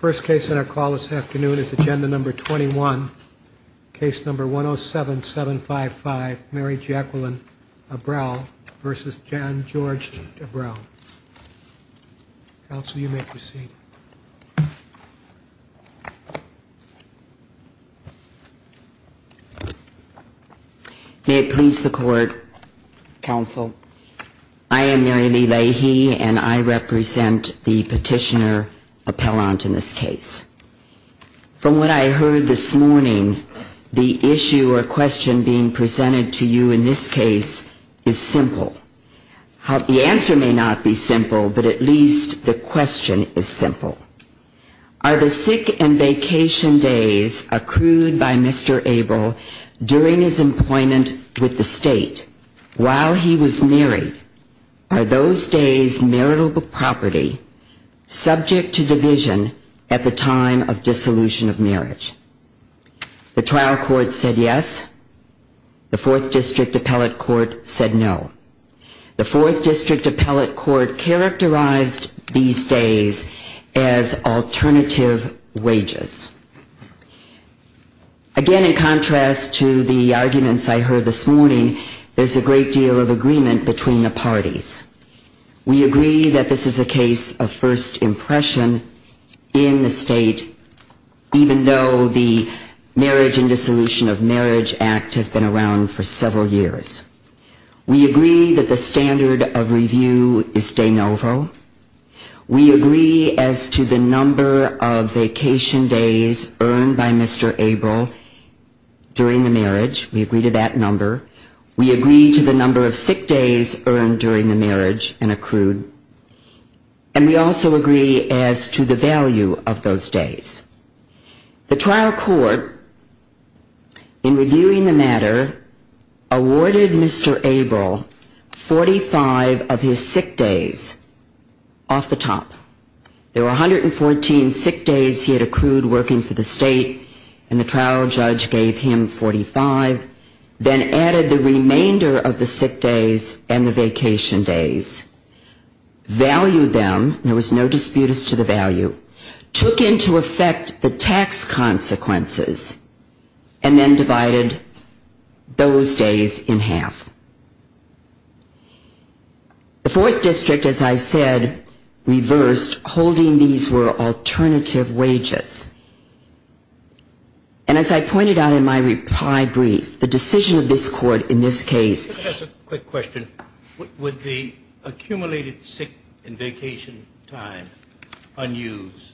First case on our call this afternoon is Agenda No. 21, Case No. 107755, Mary Jacqueline Abrell v. John George Abrell. Counsel, you may proceed. May it please the Court, Counsel, I am Mary Lee Leahy and I represent the petitioner appellant in this case. From what I heard this morning, the issue or question being presented to you in this case is simple. The answer may not be simple, but at least the question is simple. Are the sick and vacation days accrued by Mr. Abrell during his employment with the state while he was married, are those days' marital property subject to division at the time of dissolution of marriage? The trial court said yes, the 4th District Appellate Court said no. The 4th District Appellate Court characterized these days as alternative wages. Again, in contrast to the arguments I heard this morning, there's a great deal of agreement between the parties. We agree that this is a case of first impression in the state, even though the Marriage and Dissolution of Marriage Act has been around for several years. We agree that the standard of review is de novo. We agree as to the number of vacation days earned by Mr. Abrell during the marriage, we agree to that number. We agree to the number of sick days earned during the marriage and accrued. And we also agree as to the value of those days. The trial court in reviewing the matter awarded Mr. Abrell 45 of his sick days off the top. There were 114 sick days he had accrued working for the state, and the trial judge gave him 45. Then added the remainder of the sick days and the vacation days. Valued them, there was no disputes to the value. Took into effect the tax consequences, and then divided those days in half. The 4th District, as I said, reversed, holding these were alternative wages. And as I pointed out in my reply brief, the decision of this court in this case. Just a quick question. Would the accumulated sick and vacation time unused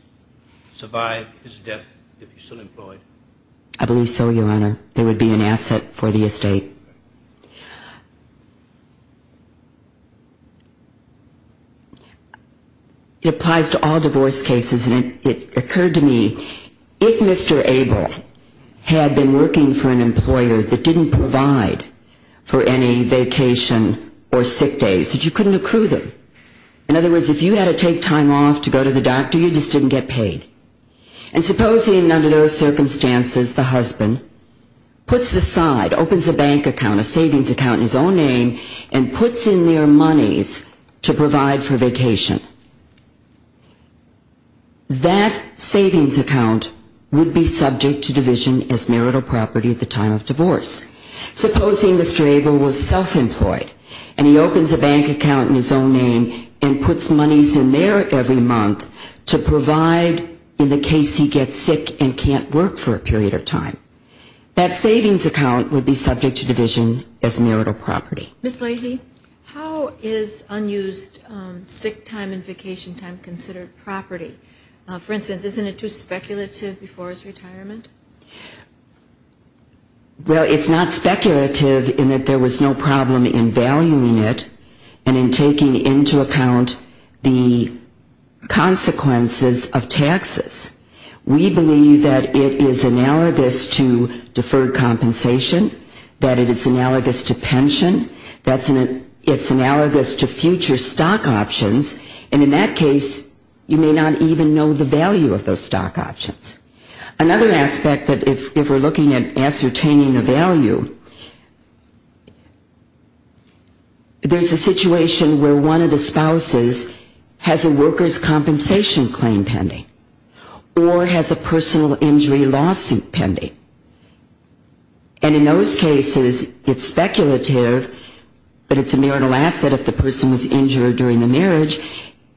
survive his death if he still employed? I believe so, Your Honor. It would be an asset for the estate. It applies to all divorce cases. And it occurred to me, if Mr. Abrell had been working for an employer that didn't provide for any vacation or sick days, that you couldn't accrue them. In other words, if you had to take time off to go to the doctor, you just didn't get paid. And supposing under those circumstances the husband puts aside, opens a bank account, a savings account in his own name, and puts in their monies to provide for vacation. That savings account would be subject to division as marital property at the time of divorce. Supposing Mr. Abrell was self-employed, and he opens a bank account in his own name and puts monies in there every month to provide in the case he gets sick and can't work for a period of time. That savings account would be subject to division as marital property. Ms. Leahy, how is unused sick time and vacation time considered property? For instance, isn't it too speculative before his retirement? Well, it's not speculative in that there was no problem in valuing it and in taking into account the consequences of taxes. We believe that it is analogous to deferred compensation, that it is analogous to pension, it's analogous to future stock options, and in that case you may not even know the value of those stock options. Another aspect that if we're looking at ascertaining a value, there's a situation where one of the spouses has a workers' compensation claim pending or has a personal injury lawsuit pending. And in those cases, it's speculative, but it's a marital asset if the person was injured during the marriage,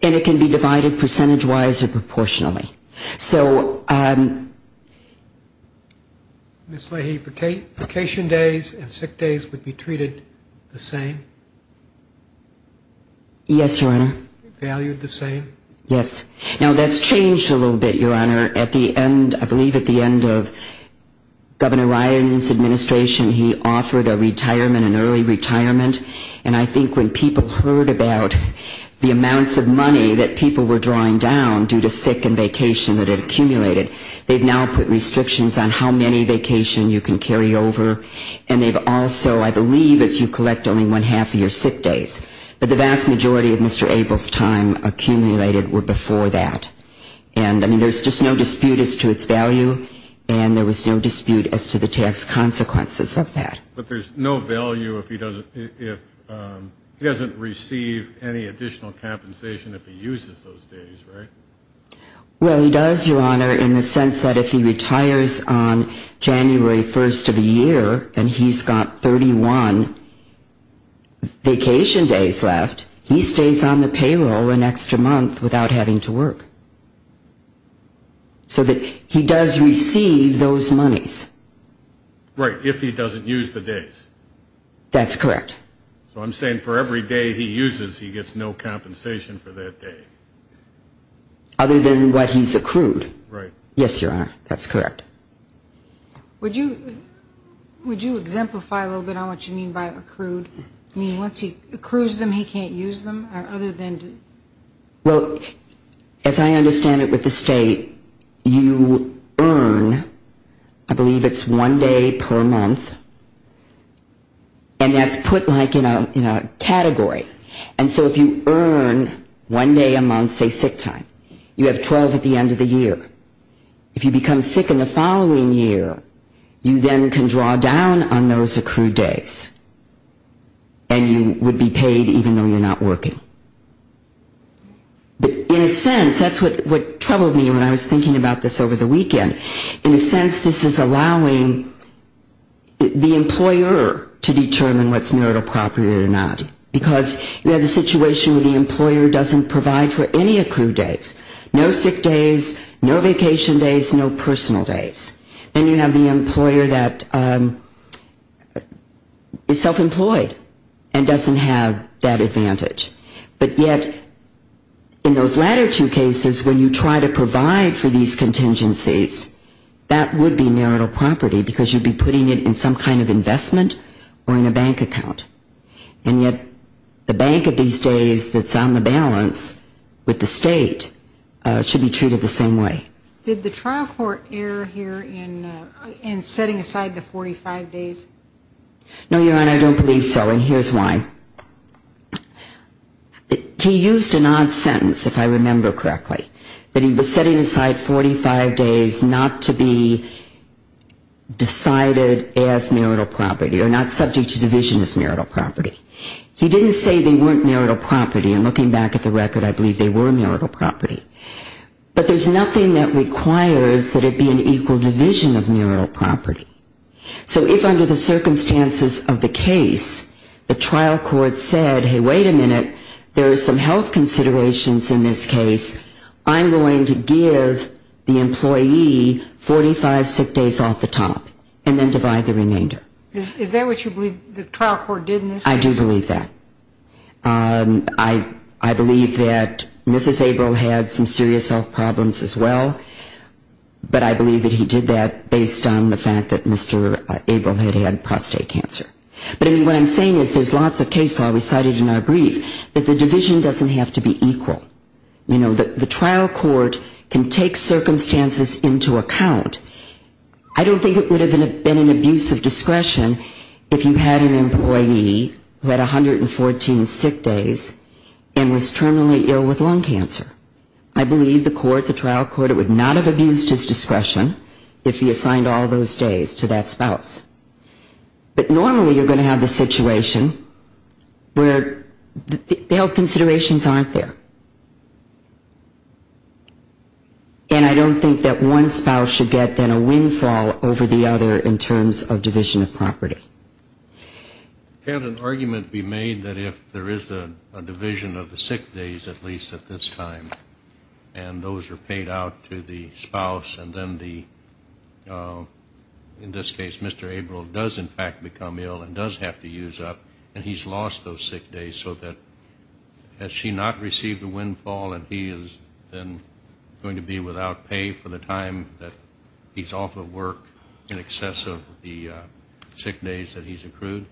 and it can be divided percentage-wise or proportionally. Ms. Leahy, vacation days and sick days would be treated the same? Yes, Your Honor. Valued the same? Yes. Now, that's changed a little bit, Your Honor. At the end, I believe at the end of Governor Ryan's administration, he offered a retirement, an early retirement, and I think when people heard about the amounts of money that people were drawing down due to sick and vacation that had accumulated, they've now put restrictions on how many vacation you can carry over, and they've also, I believe it's you collect only one-half of your sick days. But the vast majority of Mr. Abel's time accumulated were before that. And I mean, there's just no dispute as to its value, and there was no dispute as to the tax consequences of that. But there's no value if he doesn't receive any additional compensation if he uses those days, right? Well, he does, Your Honor, in the sense that if he retires on January 1st of the year and he's got 31 vacation days left, he stays on the payroll an extra month without having to work. So he does receive those monies. Right, if he doesn't use the days. That's correct. So I'm saying for every day he uses, he gets no compensation for that day. Other than what he's accrued. Right. Yes, Your Honor, that's correct. Would you exemplify a little bit on what you mean by accrued? I mean, once he accrues them, he can't use them? Well, as I understand it with the state, you earn, I believe it's one day per month. And that's put like in a category. And so if you earn one day a month, say sick time, you have 12 at the end of the year. If you become sick in the following year, you then can draw down on those accrued days. And you would be paid even though you're not working. But in a sense, that's what troubled me when I was thinking about this over the weekend. In a sense, this is allowing the employer to determine what's marital property or not. Because you have the situation where the employer doesn't provide for any accrued days. No sick days, no vacation days, no personal days. Then you have the employer that is self-employed and doesn't have that advantage. But yet in those latter two cases, when you try to provide for these contingencies, that would be marital property because you'd be putting it in some kind of investment or in a bank account. And yet the bank of these days that's on the balance with the state should be treated the same way. Did the trial court err here in setting aside the 45 days? No, Your Honor, I don't believe so, and here's why. He used an odd sentence, if I remember correctly. That he was setting aside 45 days not to be decided as marital property or not subject to division as marital property. He didn't say they weren't marital property. And looking back at the record, I believe they were marital property. But there's nothing that requires that it be an equal division of marital property. So if under the circumstances of the case, the trial court said, hey, wait a minute, there are some health considerations in this case. I'm going to give the employee 45 sick days off the top and then divide the remainder. Is that what you believe the trial court did in this case? I do believe that. I believe that Mrs. Abrel had some serious health problems as well, but I believe that he did that based on the fact that Mr. Abrel had had prostate cancer. But what I'm saying is there's lots of case law we cited in our brief that the division doesn't have to be equal. You know, the trial court can take circumstances into account. I don't think it would have been an abuse of discretion if you had an employee who had 114 sick days and was terminally ill with lung cancer. I believe the court, the trial court, would not have abused his discretion if he assigned all those days to that spouse. But normally you're going to have the situation where the health considerations aren't there. And I don't think that one spouse should get then a windfall over the other in terms of division of property. Can an argument be made that if there is a division of the sick days, at least at this time, and those are paid out to the spouse and then the, in this case, Mr. Abrel does in fact become ill and does have to use up and he's lost those sick days so that has she not received a windfall and he is then going to be without pay for the time that he's off of work in excess of the sick days that he's accrued?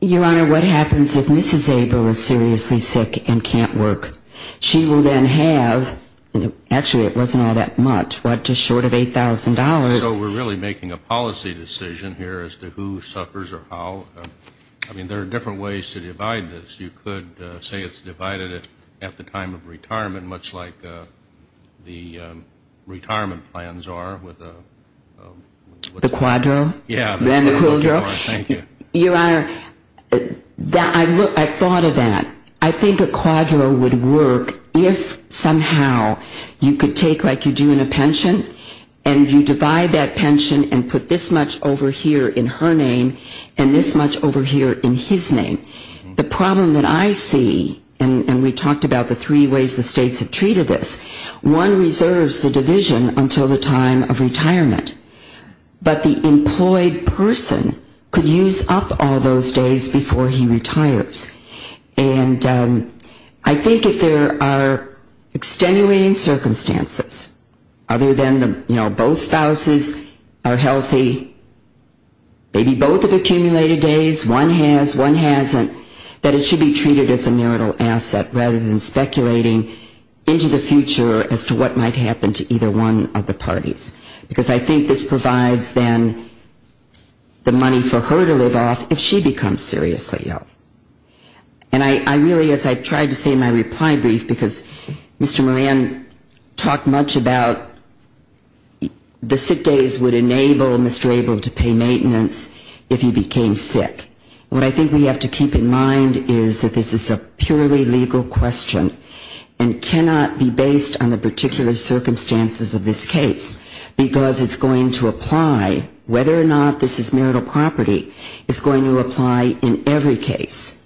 Your Honor, what happens if Mrs. Abrel is seriously sick and can't work? She will then have, actually it wasn't all that much, what, just short of $8,000. So we're really making a policy decision here as to who suffers or how? I mean, there are different ways to divide this. You could say it's divided at the time of retirement much like the retirement plans are with a The quadro? Yeah. And the quildro? Thank you. Your Honor, I've thought of that. I think a quadro would work if somehow you could take like you do in a pension and you divide that pension and put this much over here in her name and this much over here in his name. The problem that I see, and we talked about the three ways the states have treated this, one reserves the division until the time of retirement. But the employed person could use up all those days before he retires. And I think if there are extenuating circumstances other than both spouses are healthy, maybe both have accumulated days, one has, one hasn't, that it should be treated as a marital asset rather than speculating into the future as to what might happen to either one of the parties. Because I think this provides then the money for her to live off if she becomes seriously ill. And I really, as I've tried to say in my reply brief, because Mr. Moran talked much about the sick days would enable Mr. Abel to pay maintenance if he became sick. What I think we have to keep in mind is that this is a purely legal question and cannot be based on the particular circumstances of this case, because it's going to apply whether or not this is marital property. It's going to apply in every case.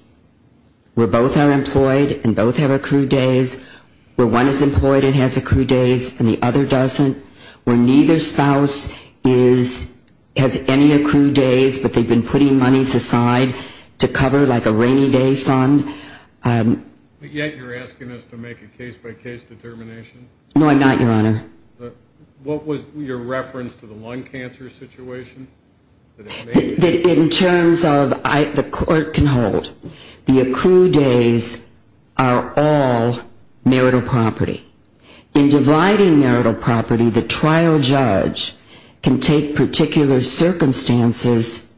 Where both are employed and both have accrued days, where one is employed and has accrued days and the other doesn't, where neither spouse has any accrued days, but they've been putting monies aside to cover like a rainy day fund. Yet you're asking us to make a case-by-case determination? No, I'm not, Your Honor. What was your reference to the lung cancer situation? In terms of the court can hold, the accrued days are all marital property. In dividing marital property, the trial judge can take particular circumstances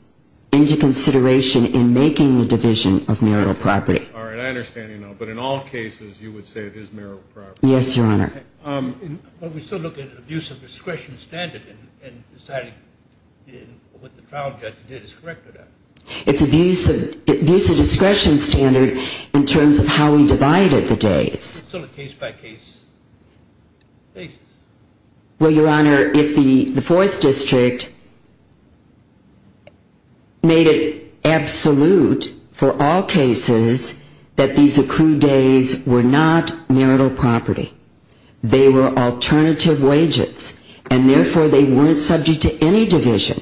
into consideration in making the division of marital property. All right, I understand. But in all cases, you would say it is marital property? Yes, Your Honor. But we're still looking at abuse of discretion standard and deciding what the trial judge did is correct or not? It's abuse of discretion standard in terms of how we divided the days. So a case-by-case basis? Well, Your Honor, if the Fourth District made it absolute for all cases that these accrued days were not marital property, they were alternative wages, and therefore they weren't subject to any division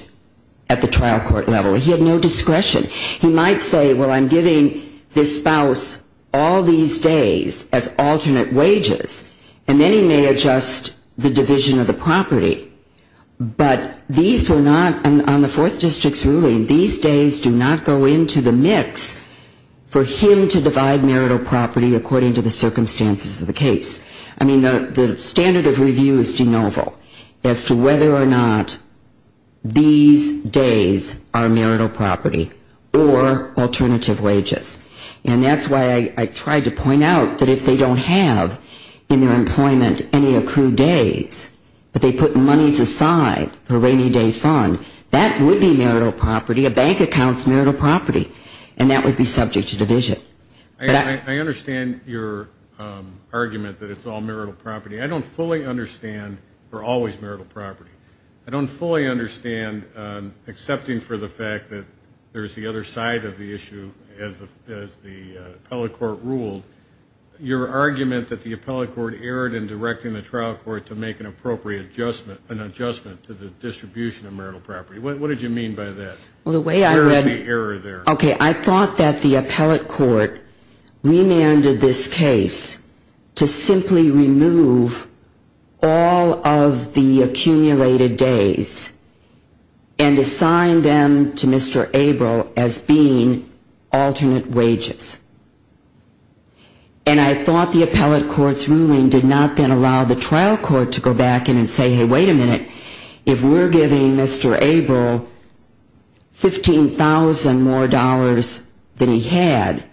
at the trial court level. He had no discretion. He might say, well, I'm giving this spouse all these days as alternate wages, and then he may adjust the division of the property. But these were not, on the Fourth District's ruling, these days do not go into the mix for him to divide marital property according to the circumstances of the case. I mean, the standard of review is de novo as to whether or not these days are marital property or alternative wages. And that's why I tried to point out that if they don't have in their employment any accrued days but they put monies aside for a rainy day fund, that would be marital property, a bank account's marital property, and that would be subject to division. I understand your argument that it's all marital property. I don't fully understand we're always marital property. I don't fully understand, excepting for the fact that there's the other side of the issue as the appellate court ruled, your argument that the appellate court erred in directing the trial court to make an appropriate adjustment, an adjustment to the distribution of marital property. What did you mean by that? Where is the error there? Okay, I thought that the appellate court remanded this case to simply remove all of the accumulated days and assign them to Mr. Abrell as being alternate wages. And I thought the appellate court's ruling did not then allow the trial court to go back and say, hey, wait a minute. If we're giving Mr. Abrell $15,000 more than he had,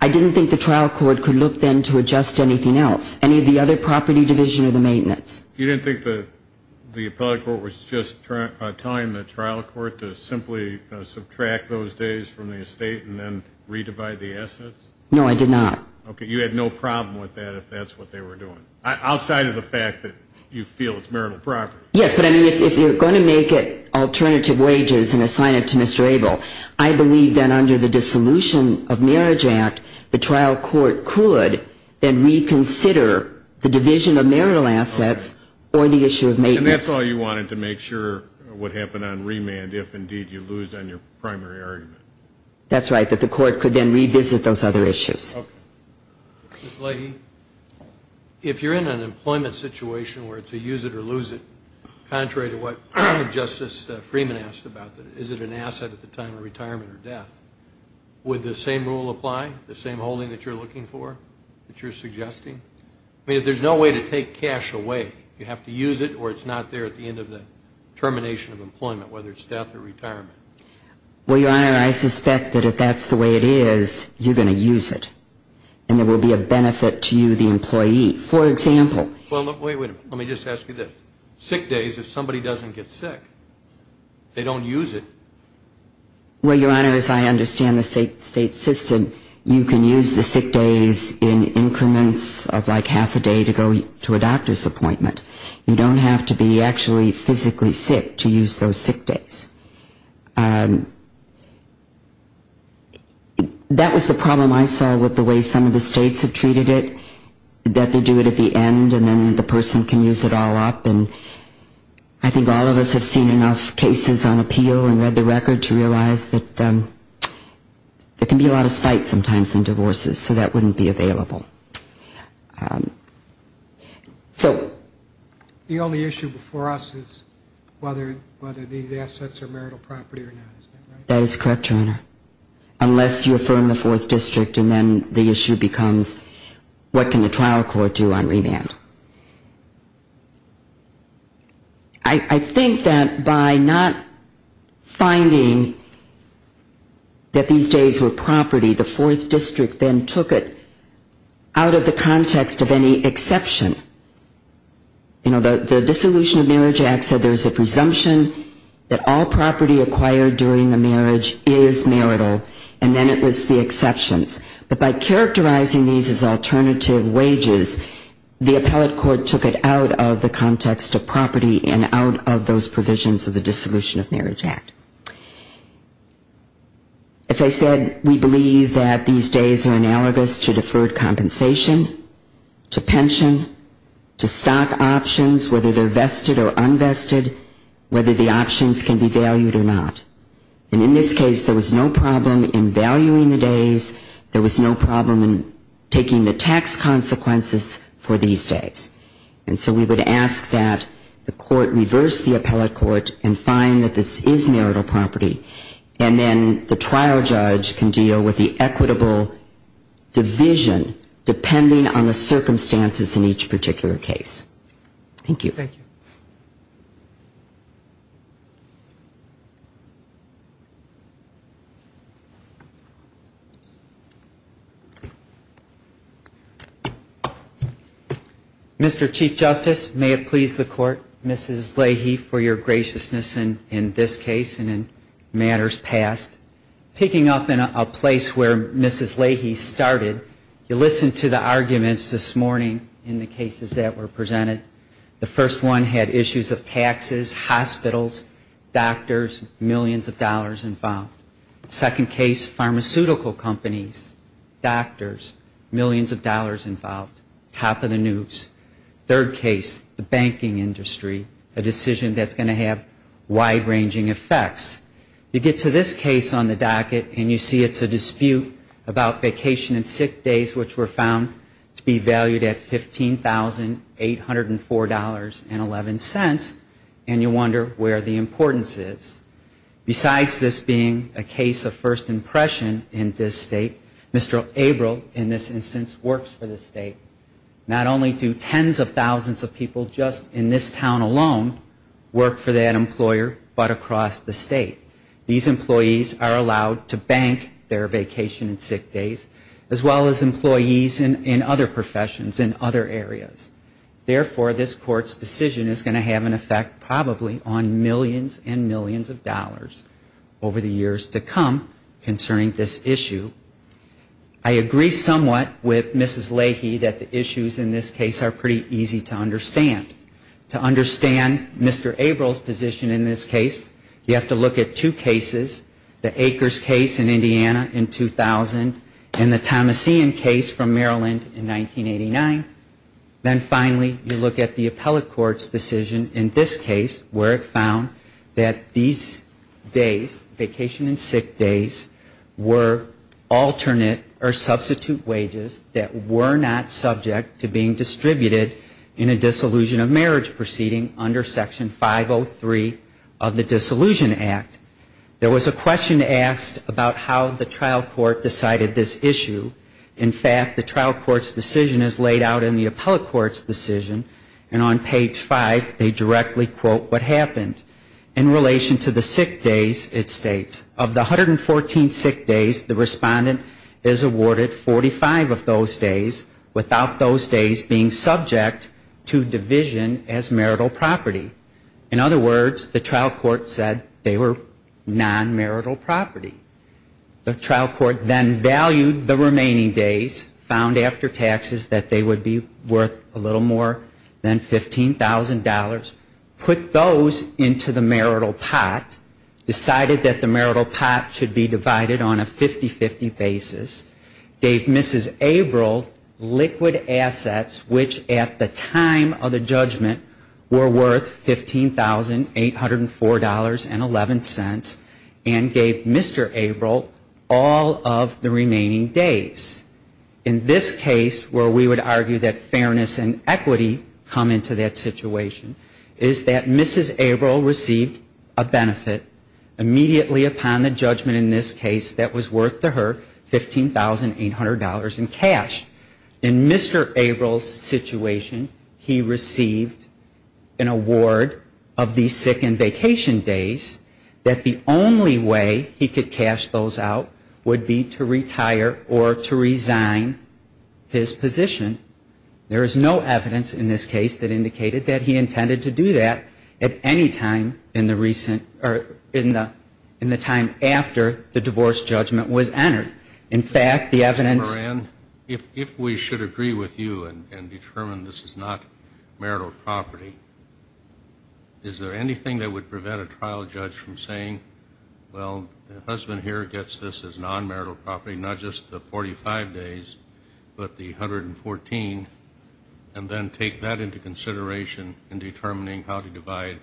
I didn't think the trial court could look then to adjust to anything else, any of the other property division or the maintenance. You didn't think the appellate court was just telling the trial court to simply subtract those days from the estate and then re-divide the assets? No, I did not. Okay, you had no problem with that if that's what they were doing, outside of the fact that you feel it's marital property. Yes, but, I mean, if you're going to make it alternative wages and assign it to Mr. Abrell, I believe that under the Dissolution of Marriage Act, the trial court could then reconsider the division of marital assets or the issue of maintenance. That's all you wanted to make sure would happen on remand if, indeed, you lose on your primary argument. That's right, that the court could then revisit those other issues. Ms. Leahy, if you're in an employment situation where it's a use it or lose it, contrary to what Justice Freeman asked about, is it an asset at the time of retirement or death, would the same rule apply, the same holding that you're looking for, that you're suggesting? I mean, if there's no way to take cash away, you have to use it or it's not there at the end of the termination of employment, whether it's death or retirement. Well, Your Honor, I suspect that if that's the way it is, you're going to use it, and there will be a benefit to you, the employee. For example, Well, wait a minute, let me just ask you this. Sick days, if somebody doesn't get sick, they don't use it. Well, Your Honor, as I understand the state system, you can use the sick days in increments of like half a day to go to a doctor's appointment. You don't have to be actually physically sick to use those sick days. That was the problem I saw with the way some of the states have treated it, that they do it at the end and then the person can use it all up. And I think all of us have seen enough cases on appeal and read the record to realize that there can be a lot of spite sometimes in divorces, so that wouldn't be available. The only issue before us is whether these assets are marital property or not, is that right? That is correct, Your Honor, unless you affirm the Fourth District, and then the issue becomes what can the trial court do on remand. I think that by not finding that these days were property, the Fourth District then took it out of the context of any exception. You know, the Dissolution of Marriage Act said there's a presumption that all property acquired during a marriage is marital, and then it lists the exceptions. But by characterizing these as alternative wages, the appellate court took it out of the context of property and out of those provisions of the Dissolution of Marriage Act. As I said, we believe that these days are analogous to deferred compensation, to pension, to stock options, whether they're vested or unvested, whether the options can be valued or not. And in this case, there was no problem in valuing the days, there was no problem in taking the tax consequences for these days. And so we would ask that the court reverse the appellate court and find that this is marital property, and then the trial judge can deal with the equitable division, depending on the circumstances in each particular case. Thank you. Mr. Chief Justice, may it please the Court, Mrs. Leahy, for your graciousness in this case and in matters past. Picking up in a place where Mrs. Leahy started, you listened to the arguments this morning in the cases that were presented. The first one had issues of taxes, hospitals, doctors, millions of dollars involved. Second case, pharmaceutical companies, doctors, millions of dollars involved. Top of the news. Third case, the banking industry, a decision that's going to have wide-ranging effects. You get to this case on the docket and you see it's a dispute about vacation and sick days, which were found to be valued at $15,804.11, and you wonder where the importance is. Besides this being a case of first impression in this State, Mr. Abrel, in this instance, works for the State. Not only do tens of thousands of people just in this town alone work for that employer, but across the State. These employees are allowed to bank their vacation and sick days, as well as employees in other professions, in other areas. Therefore, this Court's decision is going to have an effect probably on millions and millions of dollars over the years to come concerning this issue. I agree somewhat with Mrs. Leahy that the issues in this case are pretty easy to understand. To understand Mr. Abrel's position in this case, you have to look at two cases. The Akers case in Indiana in 2000 and the Thomasian case from Maryland in 1989. Then finally, you look at the Appellate Court's decision in this case, where it found that these days, vacation and sick days, were alternate or substitute wages that were not subject to being distributed in a dissolution of marriage proceeding under Section 503 of the Dissolution Act. There was a question asked about how the trial court decided this issue. In fact, the trial court's decision is laid out in the Appellate Court's decision, and on page 5, they directly quote what happened. In relation to the sick days, it states, of the 114 sick days, the respondent is awarded 45 of those days without those days being subject to division as marital property. In other words, the trial court said they were non-marital property. The trial court then valued the remaining days, found after taxes that they would be worth a little more than $15,000, put those into the marital pot, decided that the marital pot should be divided on a 50-50 basis, gave Mrs. Abrel liquid assets, which at the time of the judgment were worth $15,804.11, and gave Mr. Abrel all of the remaining days. In this case, where we would argue that fairness and equity come into that situation, is that Mrs. Abrel received a benefit immediately upon the judgment in this case that was worth to her $15,800 in cash. In Mr. Abrel's situation, he received an award of the sick and vacation days that the only way he could cash those out would be to retire or to resign his position. There is no evidence in this case that indicated that he intended to do that at any time in the recent or in the time after the divorce judgment was entered. In fact, the evidence ---- Well, the husband here gets this as non-marital property, not just the 45 days, but the 114, and then take that into consideration in determining how to divide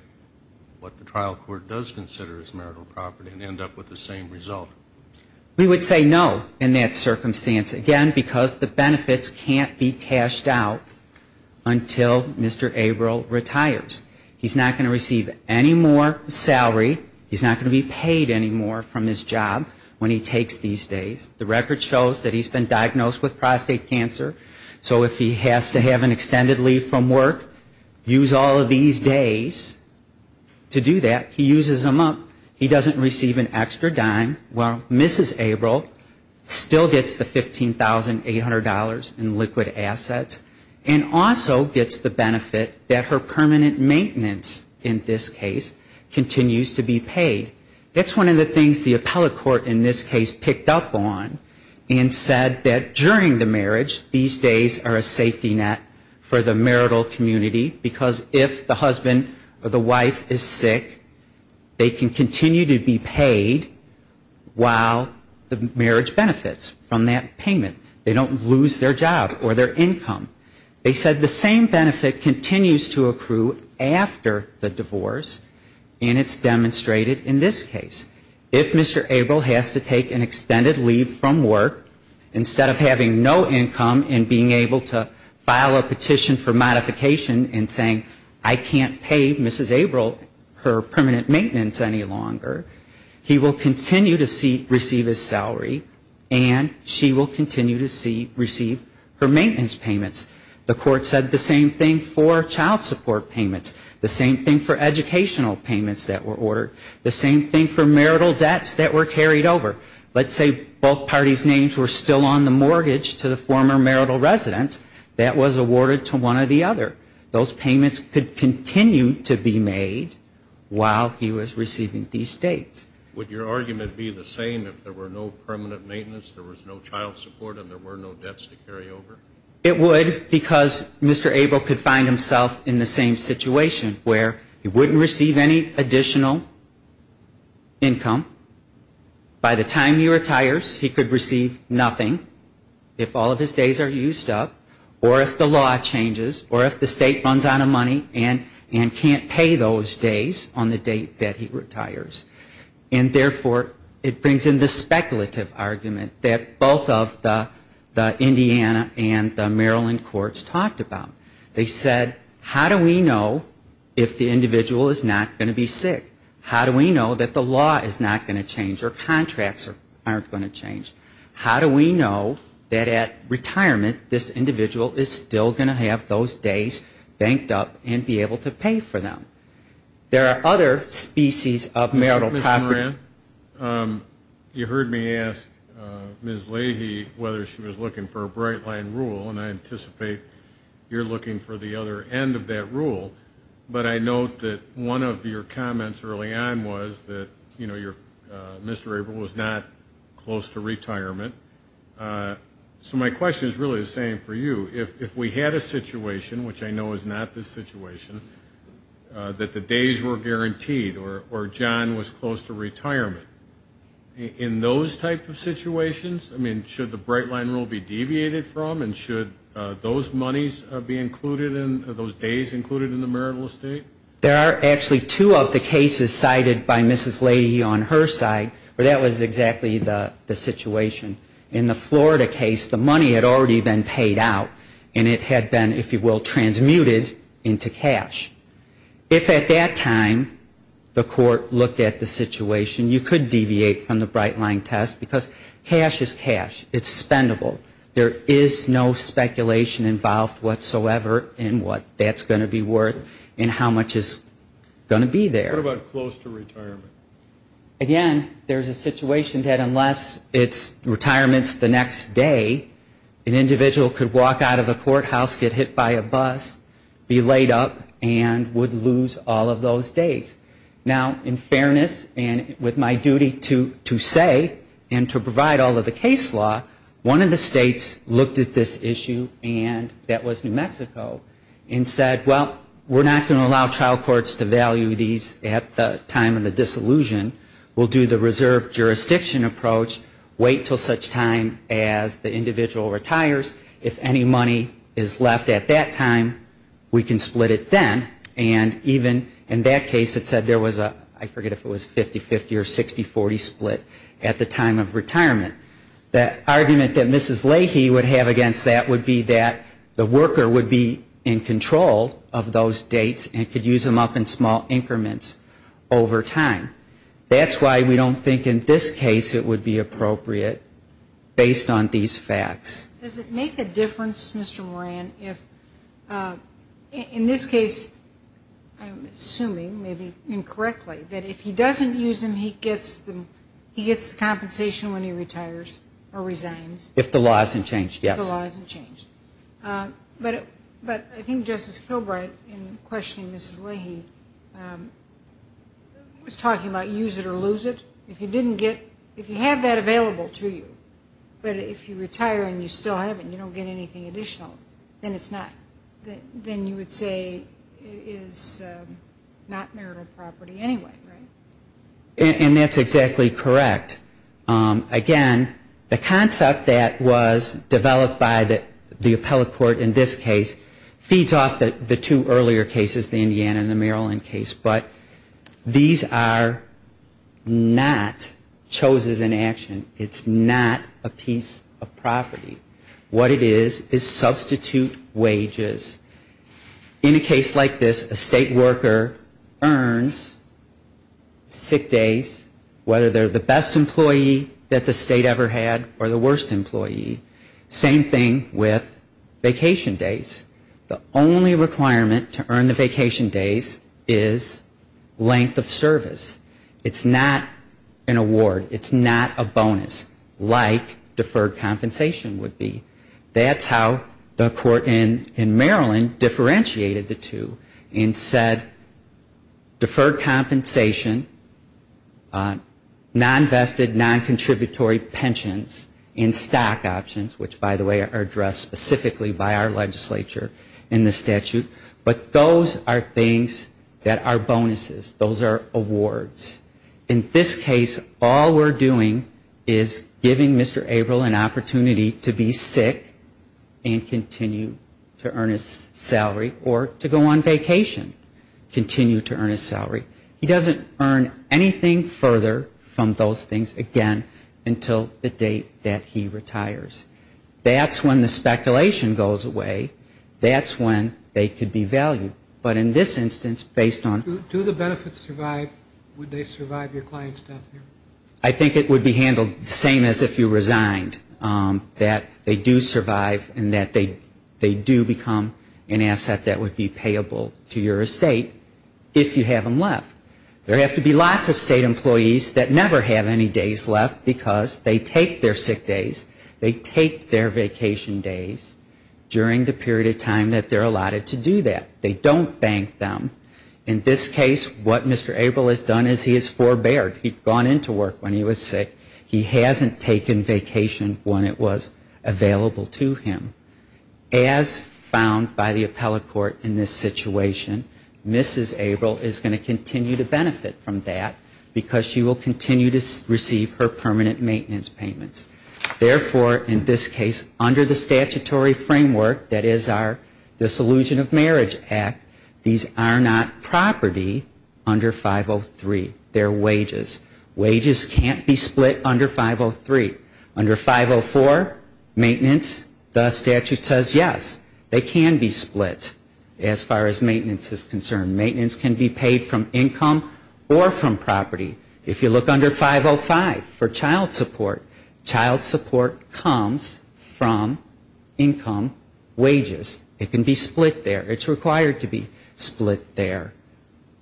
what the trial court does consider as marital property and end up with the same result. We would say no in that circumstance, again, because the benefits can't be cashed out until Mr. Abrel retires. He's not going to receive any more salary. He's not going to be paid any more from his job when he takes these days. The record shows that he's been diagnosed with prostate cancer. So if he has to have an extended leave from work, use all of these days to do that. He uses them up. He doesn't receive an extra dime. Well, Mrs. Abrel still gets the $15,800 in liquid assets and also gets the benefit that her permanent maintenance in this case continues to be paid. That's one of the things the appellate court in this case picked up on and said that during the marriage, these days are a safety net for the marital community, because if the husband or the wife is sick, they can continue to be paid while the marriage benefits from that payment. They don't lose their job or their income. They said the same benefit continues to accrue after the divorce, and it's demonstrated in this case. If Mr. Abrel has to take an extended leave from work, instead of having no income and being able to file a petition for modification and saying I can't pay Mrs. Abrel her permanent maintenance any longer, he will continue to receive his salary and she will continue to receive her maintenance payments. The court said the same thing for child support payments, the same thing for educational payments that were ordered, the same thing for marital debts that were carried over. Let's say both parties' names were still on the mortgage to the former marital residence that was awarded to one or the other. Those payments could continue to be made while he was receiving these dates. Would your argument be the same if there were no permanent maintenance, there was no child support and there were no debts to carry over? It would, because Mr. Abrel could find himself in the same situation where he wouldn't receive any additional income by the time he retires. He could receive nothing if all of his days are used up or if the law changes or if the state runs out of money and can't pay those days on the date that he retires. And therefore, it brings in the speculative argument that both of the Indiana and the Maryland courts talked about. They said how do we know if the individual is not going to be sick? How do we know that the law is not going to change or contracts are going to change? How do we know that at retirement this individual is still going to have those days banked up and be able to pay for them? There are other species of marital poverty. You heard me ask Ms. Leahy whether she was looking for a bright line rule, and I anticipate you're looking for the other end of that rule, but I note that one of your comments early on was that Mr. Abrel was not a close to retirement. So my question is really the same for you. If we had a situation, which I know is not this situation, that the days were guaranteed or John was close to retirement, in those type of situations, I mean, should the bright line rule be deviated from and should those monies be included in those days included in the marital estate? There are actually two of the cases cited by Mrs. Leahy on her side where that was exactly the situation. In the Florida case, the money had already been paid out, and it had been, if you will, transmuted into cash. If at that time the court looked at the situation, you could deviate from the bright line test, because cash is cash. It's spendable. There is no speculation involved whatsoever in what that's going to be worth and how much it's going to be worth. Again, there is a situation that unless it's retirements the next day, an individual could walk out of the courthouse, get hit by a bus, be laid up and would lose all of those days. Now, in fairness and with my duty to say and to provide all of the case law, one of the states looked at this issue and that was New York. And they said, if we allow the trial courts to value these at the time of the disillusion, we'll do the reserve jurisdiction approach, wait until such time as the individual retires. If any money is left at that time, we can split it then. And even in that case it said there was a, I forget if it was a 50-50 or 60-40 split at the time of retirement. The argument that Mrs. Leahy would have against that would be that the worker would be in control of those dates and could use those days to use them up in small increments over time. That's why we don't think in this case it would be appropriate based on these facts. Does it make a difference, Mr. Moran, if in this case, I'm assuming, maybe incorrectly, that if he doesn't use them, he gets the compensation when he retires or resigns? If the law hasn't changed, yes. But I think Justice Kilbright in questioning Mrs. Leahy was talking about use it or lose it. If you didn't get, if you have that available to you, but if you retire and you still have it and you don't get anything additional, then it's not, then you would say it is not marital property anyway, right? And that's exactly correct. Again, the concept that was developed by the appellate court in this case feeds off the two earlier cases, the Indiana and the Maryland case, but these are not choses in action. It's not a piece of property. What it is, is substitute wages. In a case like this, a state worker earns sick days, whether they're the best employee that the state ever had or the worst employee. Same thing with vacation days. The only requirement to earn the vacation days is length of service. It's not an award. It's not a bonus, like deferred compensation would be. That's how the court in Maryland differentiated the two and said deferred compensation, non-vested, non-contributory pensions and stock options, which by the way are addressed specifically by our legislature in the statute. But those are things that are bonuses. Those are awards. In this case, all we're doing is giving Mr. Abrel an opportunity to be sick and continue to earn his salary or to go on vacation, continue to earn his salary. He doesn't earn anything further from those things, again, until the date that he retires. That's when the speculation goes away. That's when they could be valued. But in this instance, based on the benefits, I think it would be handled the same as if you resigned, that they do survive and that they do become an asset that would be payable to your estate if you have them left. There have to be lots of state employees that never have any days left because they take their sick days, they take their vacation days during the period of time that they're allotted to do that. They don't bank them. And in this case, what Mr. Abrel has done is he has forbeared. He'd gone into work when he was sick. He hasn't taken vacation when it was available to him. As found by the appellate court in this situation, Mrs. Abrel is going to continue to benefit from that because she will continue to receive her permanent maintenance payments. Therefore, in this case, under the statutory framework that is our Solution of Marriage Act, these are not property under 503. They're wages. Wages can't be split under 503. Under 504, maintenance, the statute says yes, they can be split as far as maintenance is concerned. Maintenance can be paid from income or from property. If you look under 505 for child support, child support comes from income wages. It can be split. It's required to be split there.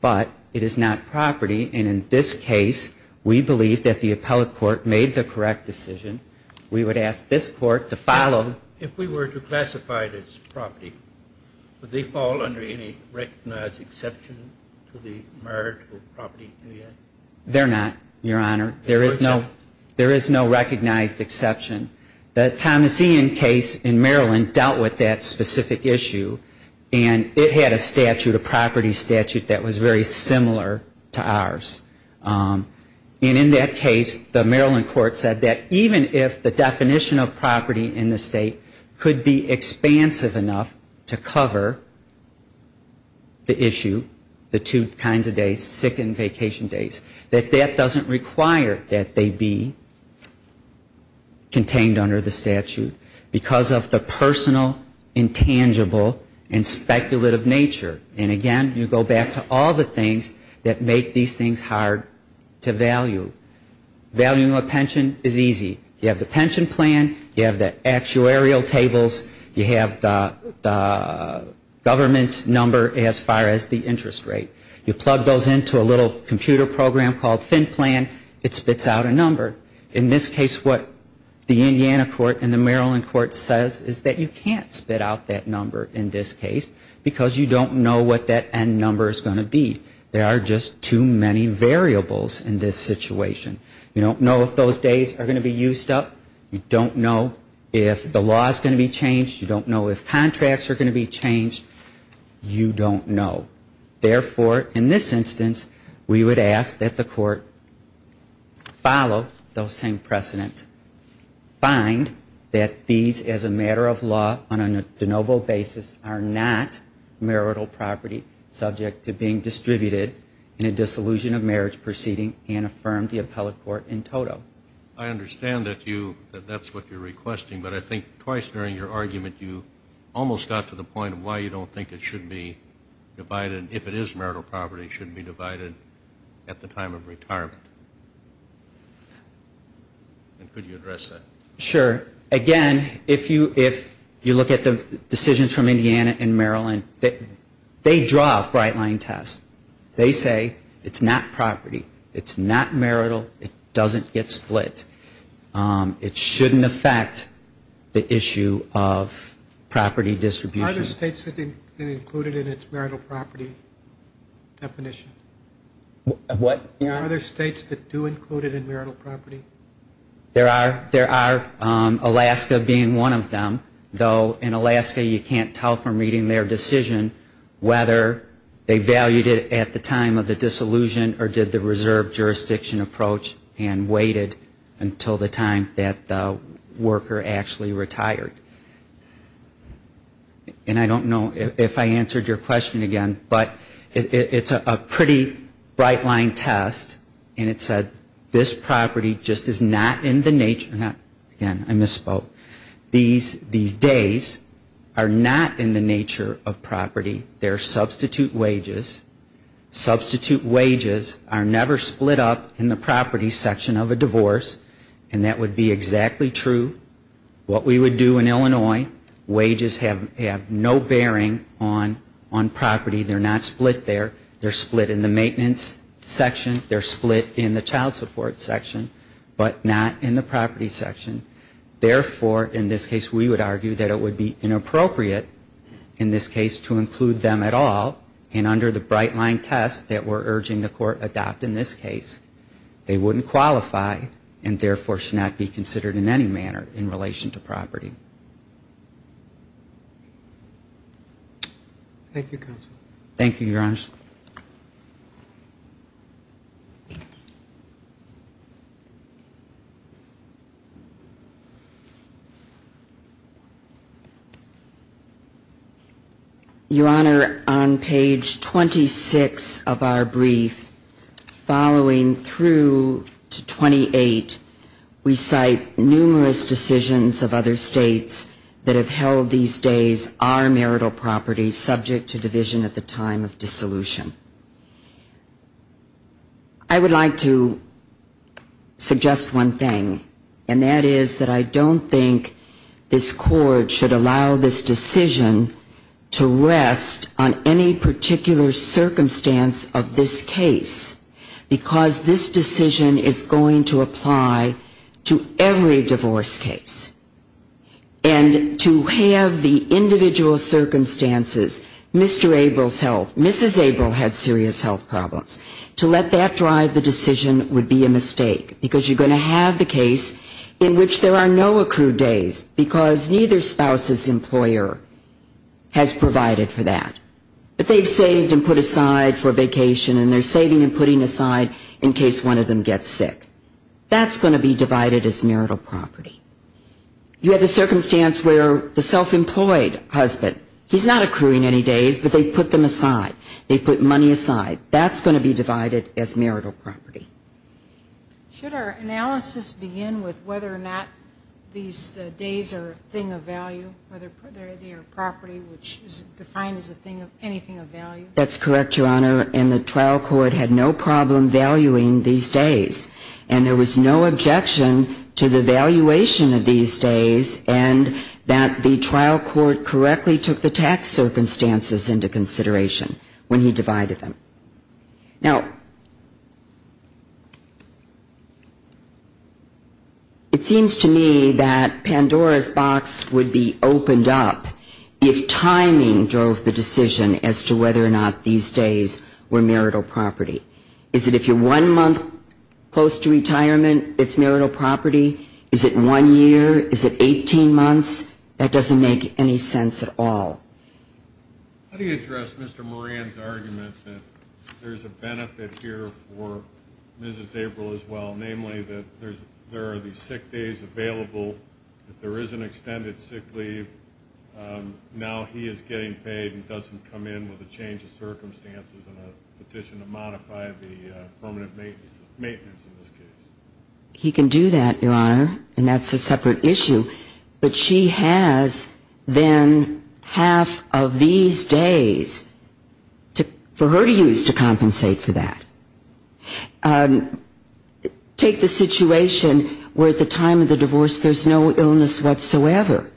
But it is not property. And in this case, we believe that the appellate court made the correct decision. We would ask this court to follow. If we were to classify this property, would they fall under any recognized exception to the marital property? They're not, Your Honor. There is no recognized exception. The Thomas Ian case in Maryland dealt with that specific issue. And it had a statute, a property statute that was very similar to ours. And in that case, the Maryland court said that even if the definition of property in the state could be expansive enough to cover the issue, the two kinds of days, sick and vacation days, that that doesn't require that they be contained under the statute because of the personal, intangible, and speculative nature. And again, you go back to all the things that make these things hard to value. Valuing a pension is easy. You have the pension plan. You have the actuarial tables. You have the government's number as far as the interest rate. You plug those into a little computer program called FinPlan. It spits out a number. In this case, what the Indiana court and the court said is that you don't know what that number is going to be. There are just too many variables in this situation. You don't know if those days are going to be used up. You don't know if the law is going to be changed. You don't know if contracts are going to be changed. You don't know. Therefore, in this instance, we would ask that the court follow those same precedents, find that these, as a matter of law, on a de novo basis, are not marital property subject to being distributed in a dissolution of marriage proceeding, and affirm the appellate court in toto. I understand that you, that that's what you're requesting, but I think twice during your argument you almost got to the point of why you don't think it should be divided, if it is marital property, it should be divided at the time of retirement. And could you again, if you look at the decisions from Indiana and Maryland, they draw a bright line test. They say it's not property, it's not marital, it doesn't get split. It shouldn't affect the issue of property distribution. Are there states that include it in its marital property definition? Are there states that do include it in marital property? Alaska being one of them, though in Alaska you can't tell from reading their decision whether they valued it at the time of the dissolution or did the reserve jurisdiction approach and waited until the time that the worker actually retired. And I don't know if I answered your question again, but it's a pretty bright line test, and it said this property just is not in the nature, again I misspoke, these days are not in the nature of property. They're substitute wages. Substitute wages are never split up in the property section of a divorce, and that would be exactly true. What we would do in Illinois, wages have no bearing on property. They're not split there. They're split in the maintenance section. They're split in the child support section, but not in the property section. Therefore, in this case we would argue that it would be inappropriate in this case to include them at all, and under the bright line test that we're urging the court adopt in this case, they wouldn't qualify and therefore should not be considered in any manner in relation to property. Thank you, counsel. Your Honor, on page 26 of our brief, following through to 28, we cite numerous decisions of other states that have held these days are marital property subject to division at the time of dissolution. I would like to suggest one thing. In the case of the divorce case, I would like to suggest one thing, and that is that I don't think this court should allow this decision to rest on any particular circumstance of this case, because this decision is going to apply to every divorce case. And to have the individual circumstances, Mr. Abel's health, Mrs. Abel had serious health problems. To let that drive the decision would be a mistake, because you're going to have the case in which there are no accrued days, because neither spouse's employer has provided for that. But they've saved and put aside for vacation, and they're saving and putting aside in case one of them gets sick. That's going to be divided as marital property. You have the circumstance where the self-employed husband, he's not accruing any days, but they've put them aside. They've put money aside. That's going to be divided as marital property. Should our analysis begin with whether or not these days are a thing of value, whether they are property, which is defined as anything of value? That's correct, Your Honor, and the trial court had no problem valuing these days. And there was no objection to the valuation of these days, and that the trial court correctly took the tax circumstances into consideration when he divided them. Now, it seems to me that Pandora's box would be opened up if timing drove the decision as to whether or not these days were marital property. Is it if you're one month close to retirement, it's marital property? Is it one year? Is it 18 months? That doesn't make any sense at all. How do you address Mr. Moran's argument that there's a benefit here for Mrs. April as well, namely that there are the sick days available. If there is an extended sick leave, now he is getting paid and doesn't come in with a change of circumstances and a petition to modify the permanent maintenance, in this case? He can do that, Your Honor, and that's a separate issue. But she has then half of the benefits that she would have if she had the half of these days for her to use to compensate for that. Take the situation where at the time of the divorce there's no illness whatsoever.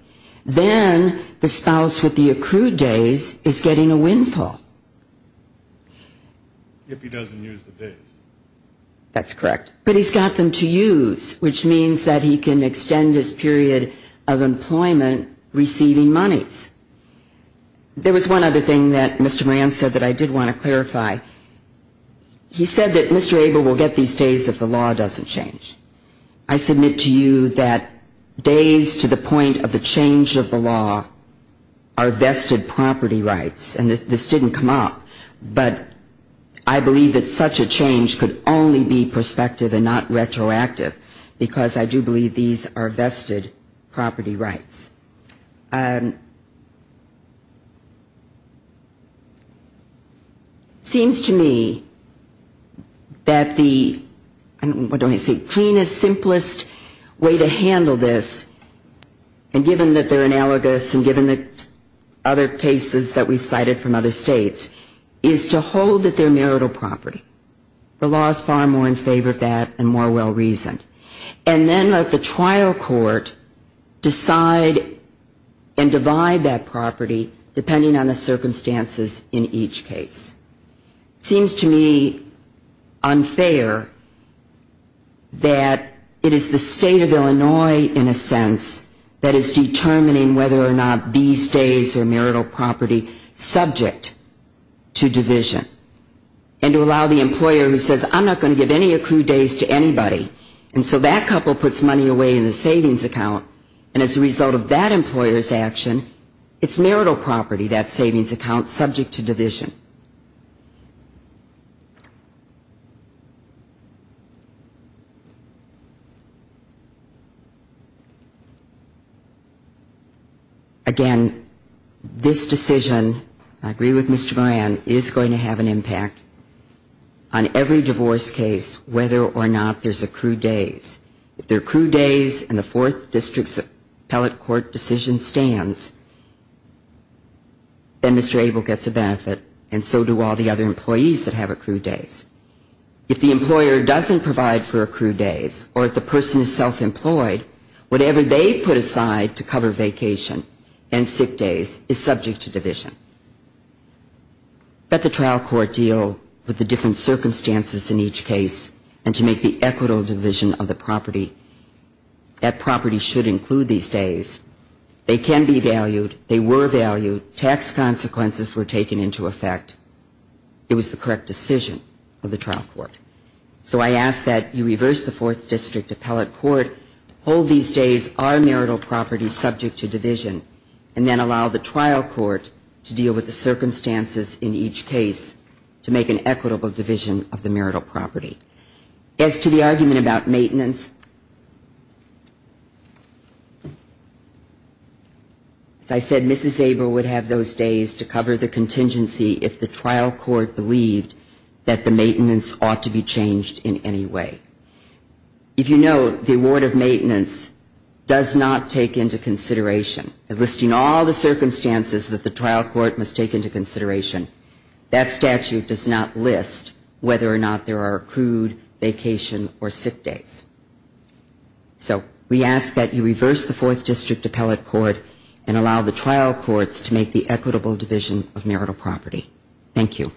Then the spouse with the accrued days is getting a windfall. If he doesn't use the days. That's correct. But he's got them to use, which means that he can extend his period of employment receiving monies. There was one other thing that Mr. Moran said that I did want to clarify. He said that Mr. April will get these days if the law doesn't change. I submit to you that days to the point of the change of the law are vested property rights, and this didn't come up, but I believe that such a change could only be prospective and not retroactive, because I do believe these are vested property rights. Seems to me that the, what do I say, cleanest, simplest way to handle this, and given that they're analogous and given that other cases that we've cited from other states, is to hold that they're marital property. The law is far more in favor of that and more well reasoned. And then let the trial court decide and divide that property depending on the circumstances in each case. Seems to me unfair that it is the state of Illinois, in a sense, that is determining whether or not these days are marital property subject to division. And to allow the employer who says I'm not going to give any accrued days to anybody, and so that couple puts money away in the savings account, and as a result of that employer's action, it's marital property, that savings account, subject to division. Again, this decision, I agree with Mr. Moran, is going to have an impact on every divorce case, whether or not there's accrued days. If there are accrued days and the Fourth District's appellate court decision stands, then Mr. Abel gets a benefit. And so do all the other employees that have accrued days. If the employer doesn't provide for accrued days, or if the person is self-employed, whatever they put aside to cover vacation and sick days is subject to division. Let the trial court deal with the different circumstances in each case, and to make the equitable division of the property. That property should include these days. They can be valued. They were valued. Tax consequences were taken into effect. It was the correct decision of the trial court. So I ask that you reverse the Fourth District appellate court, hold these days are marital property subject to division, and then allow the trial court to deal with the circumstances in each case to make an equitable division of the marital property. As to the argument about maintenance, as I said, Mrs. Abel would have those days to cover the contingency if the trial court believed that the maintenance ought to be changed in any way. If you know the award of maintenance does not take into consideration, listing all the circumstances that the trial court must take into consideration, that statute does not list whether or not there are accrued vacation or sick days. So we ask that you reverse the Fourth District appellate court and allow the trial courts to make the equitable division of marital property. Thank you.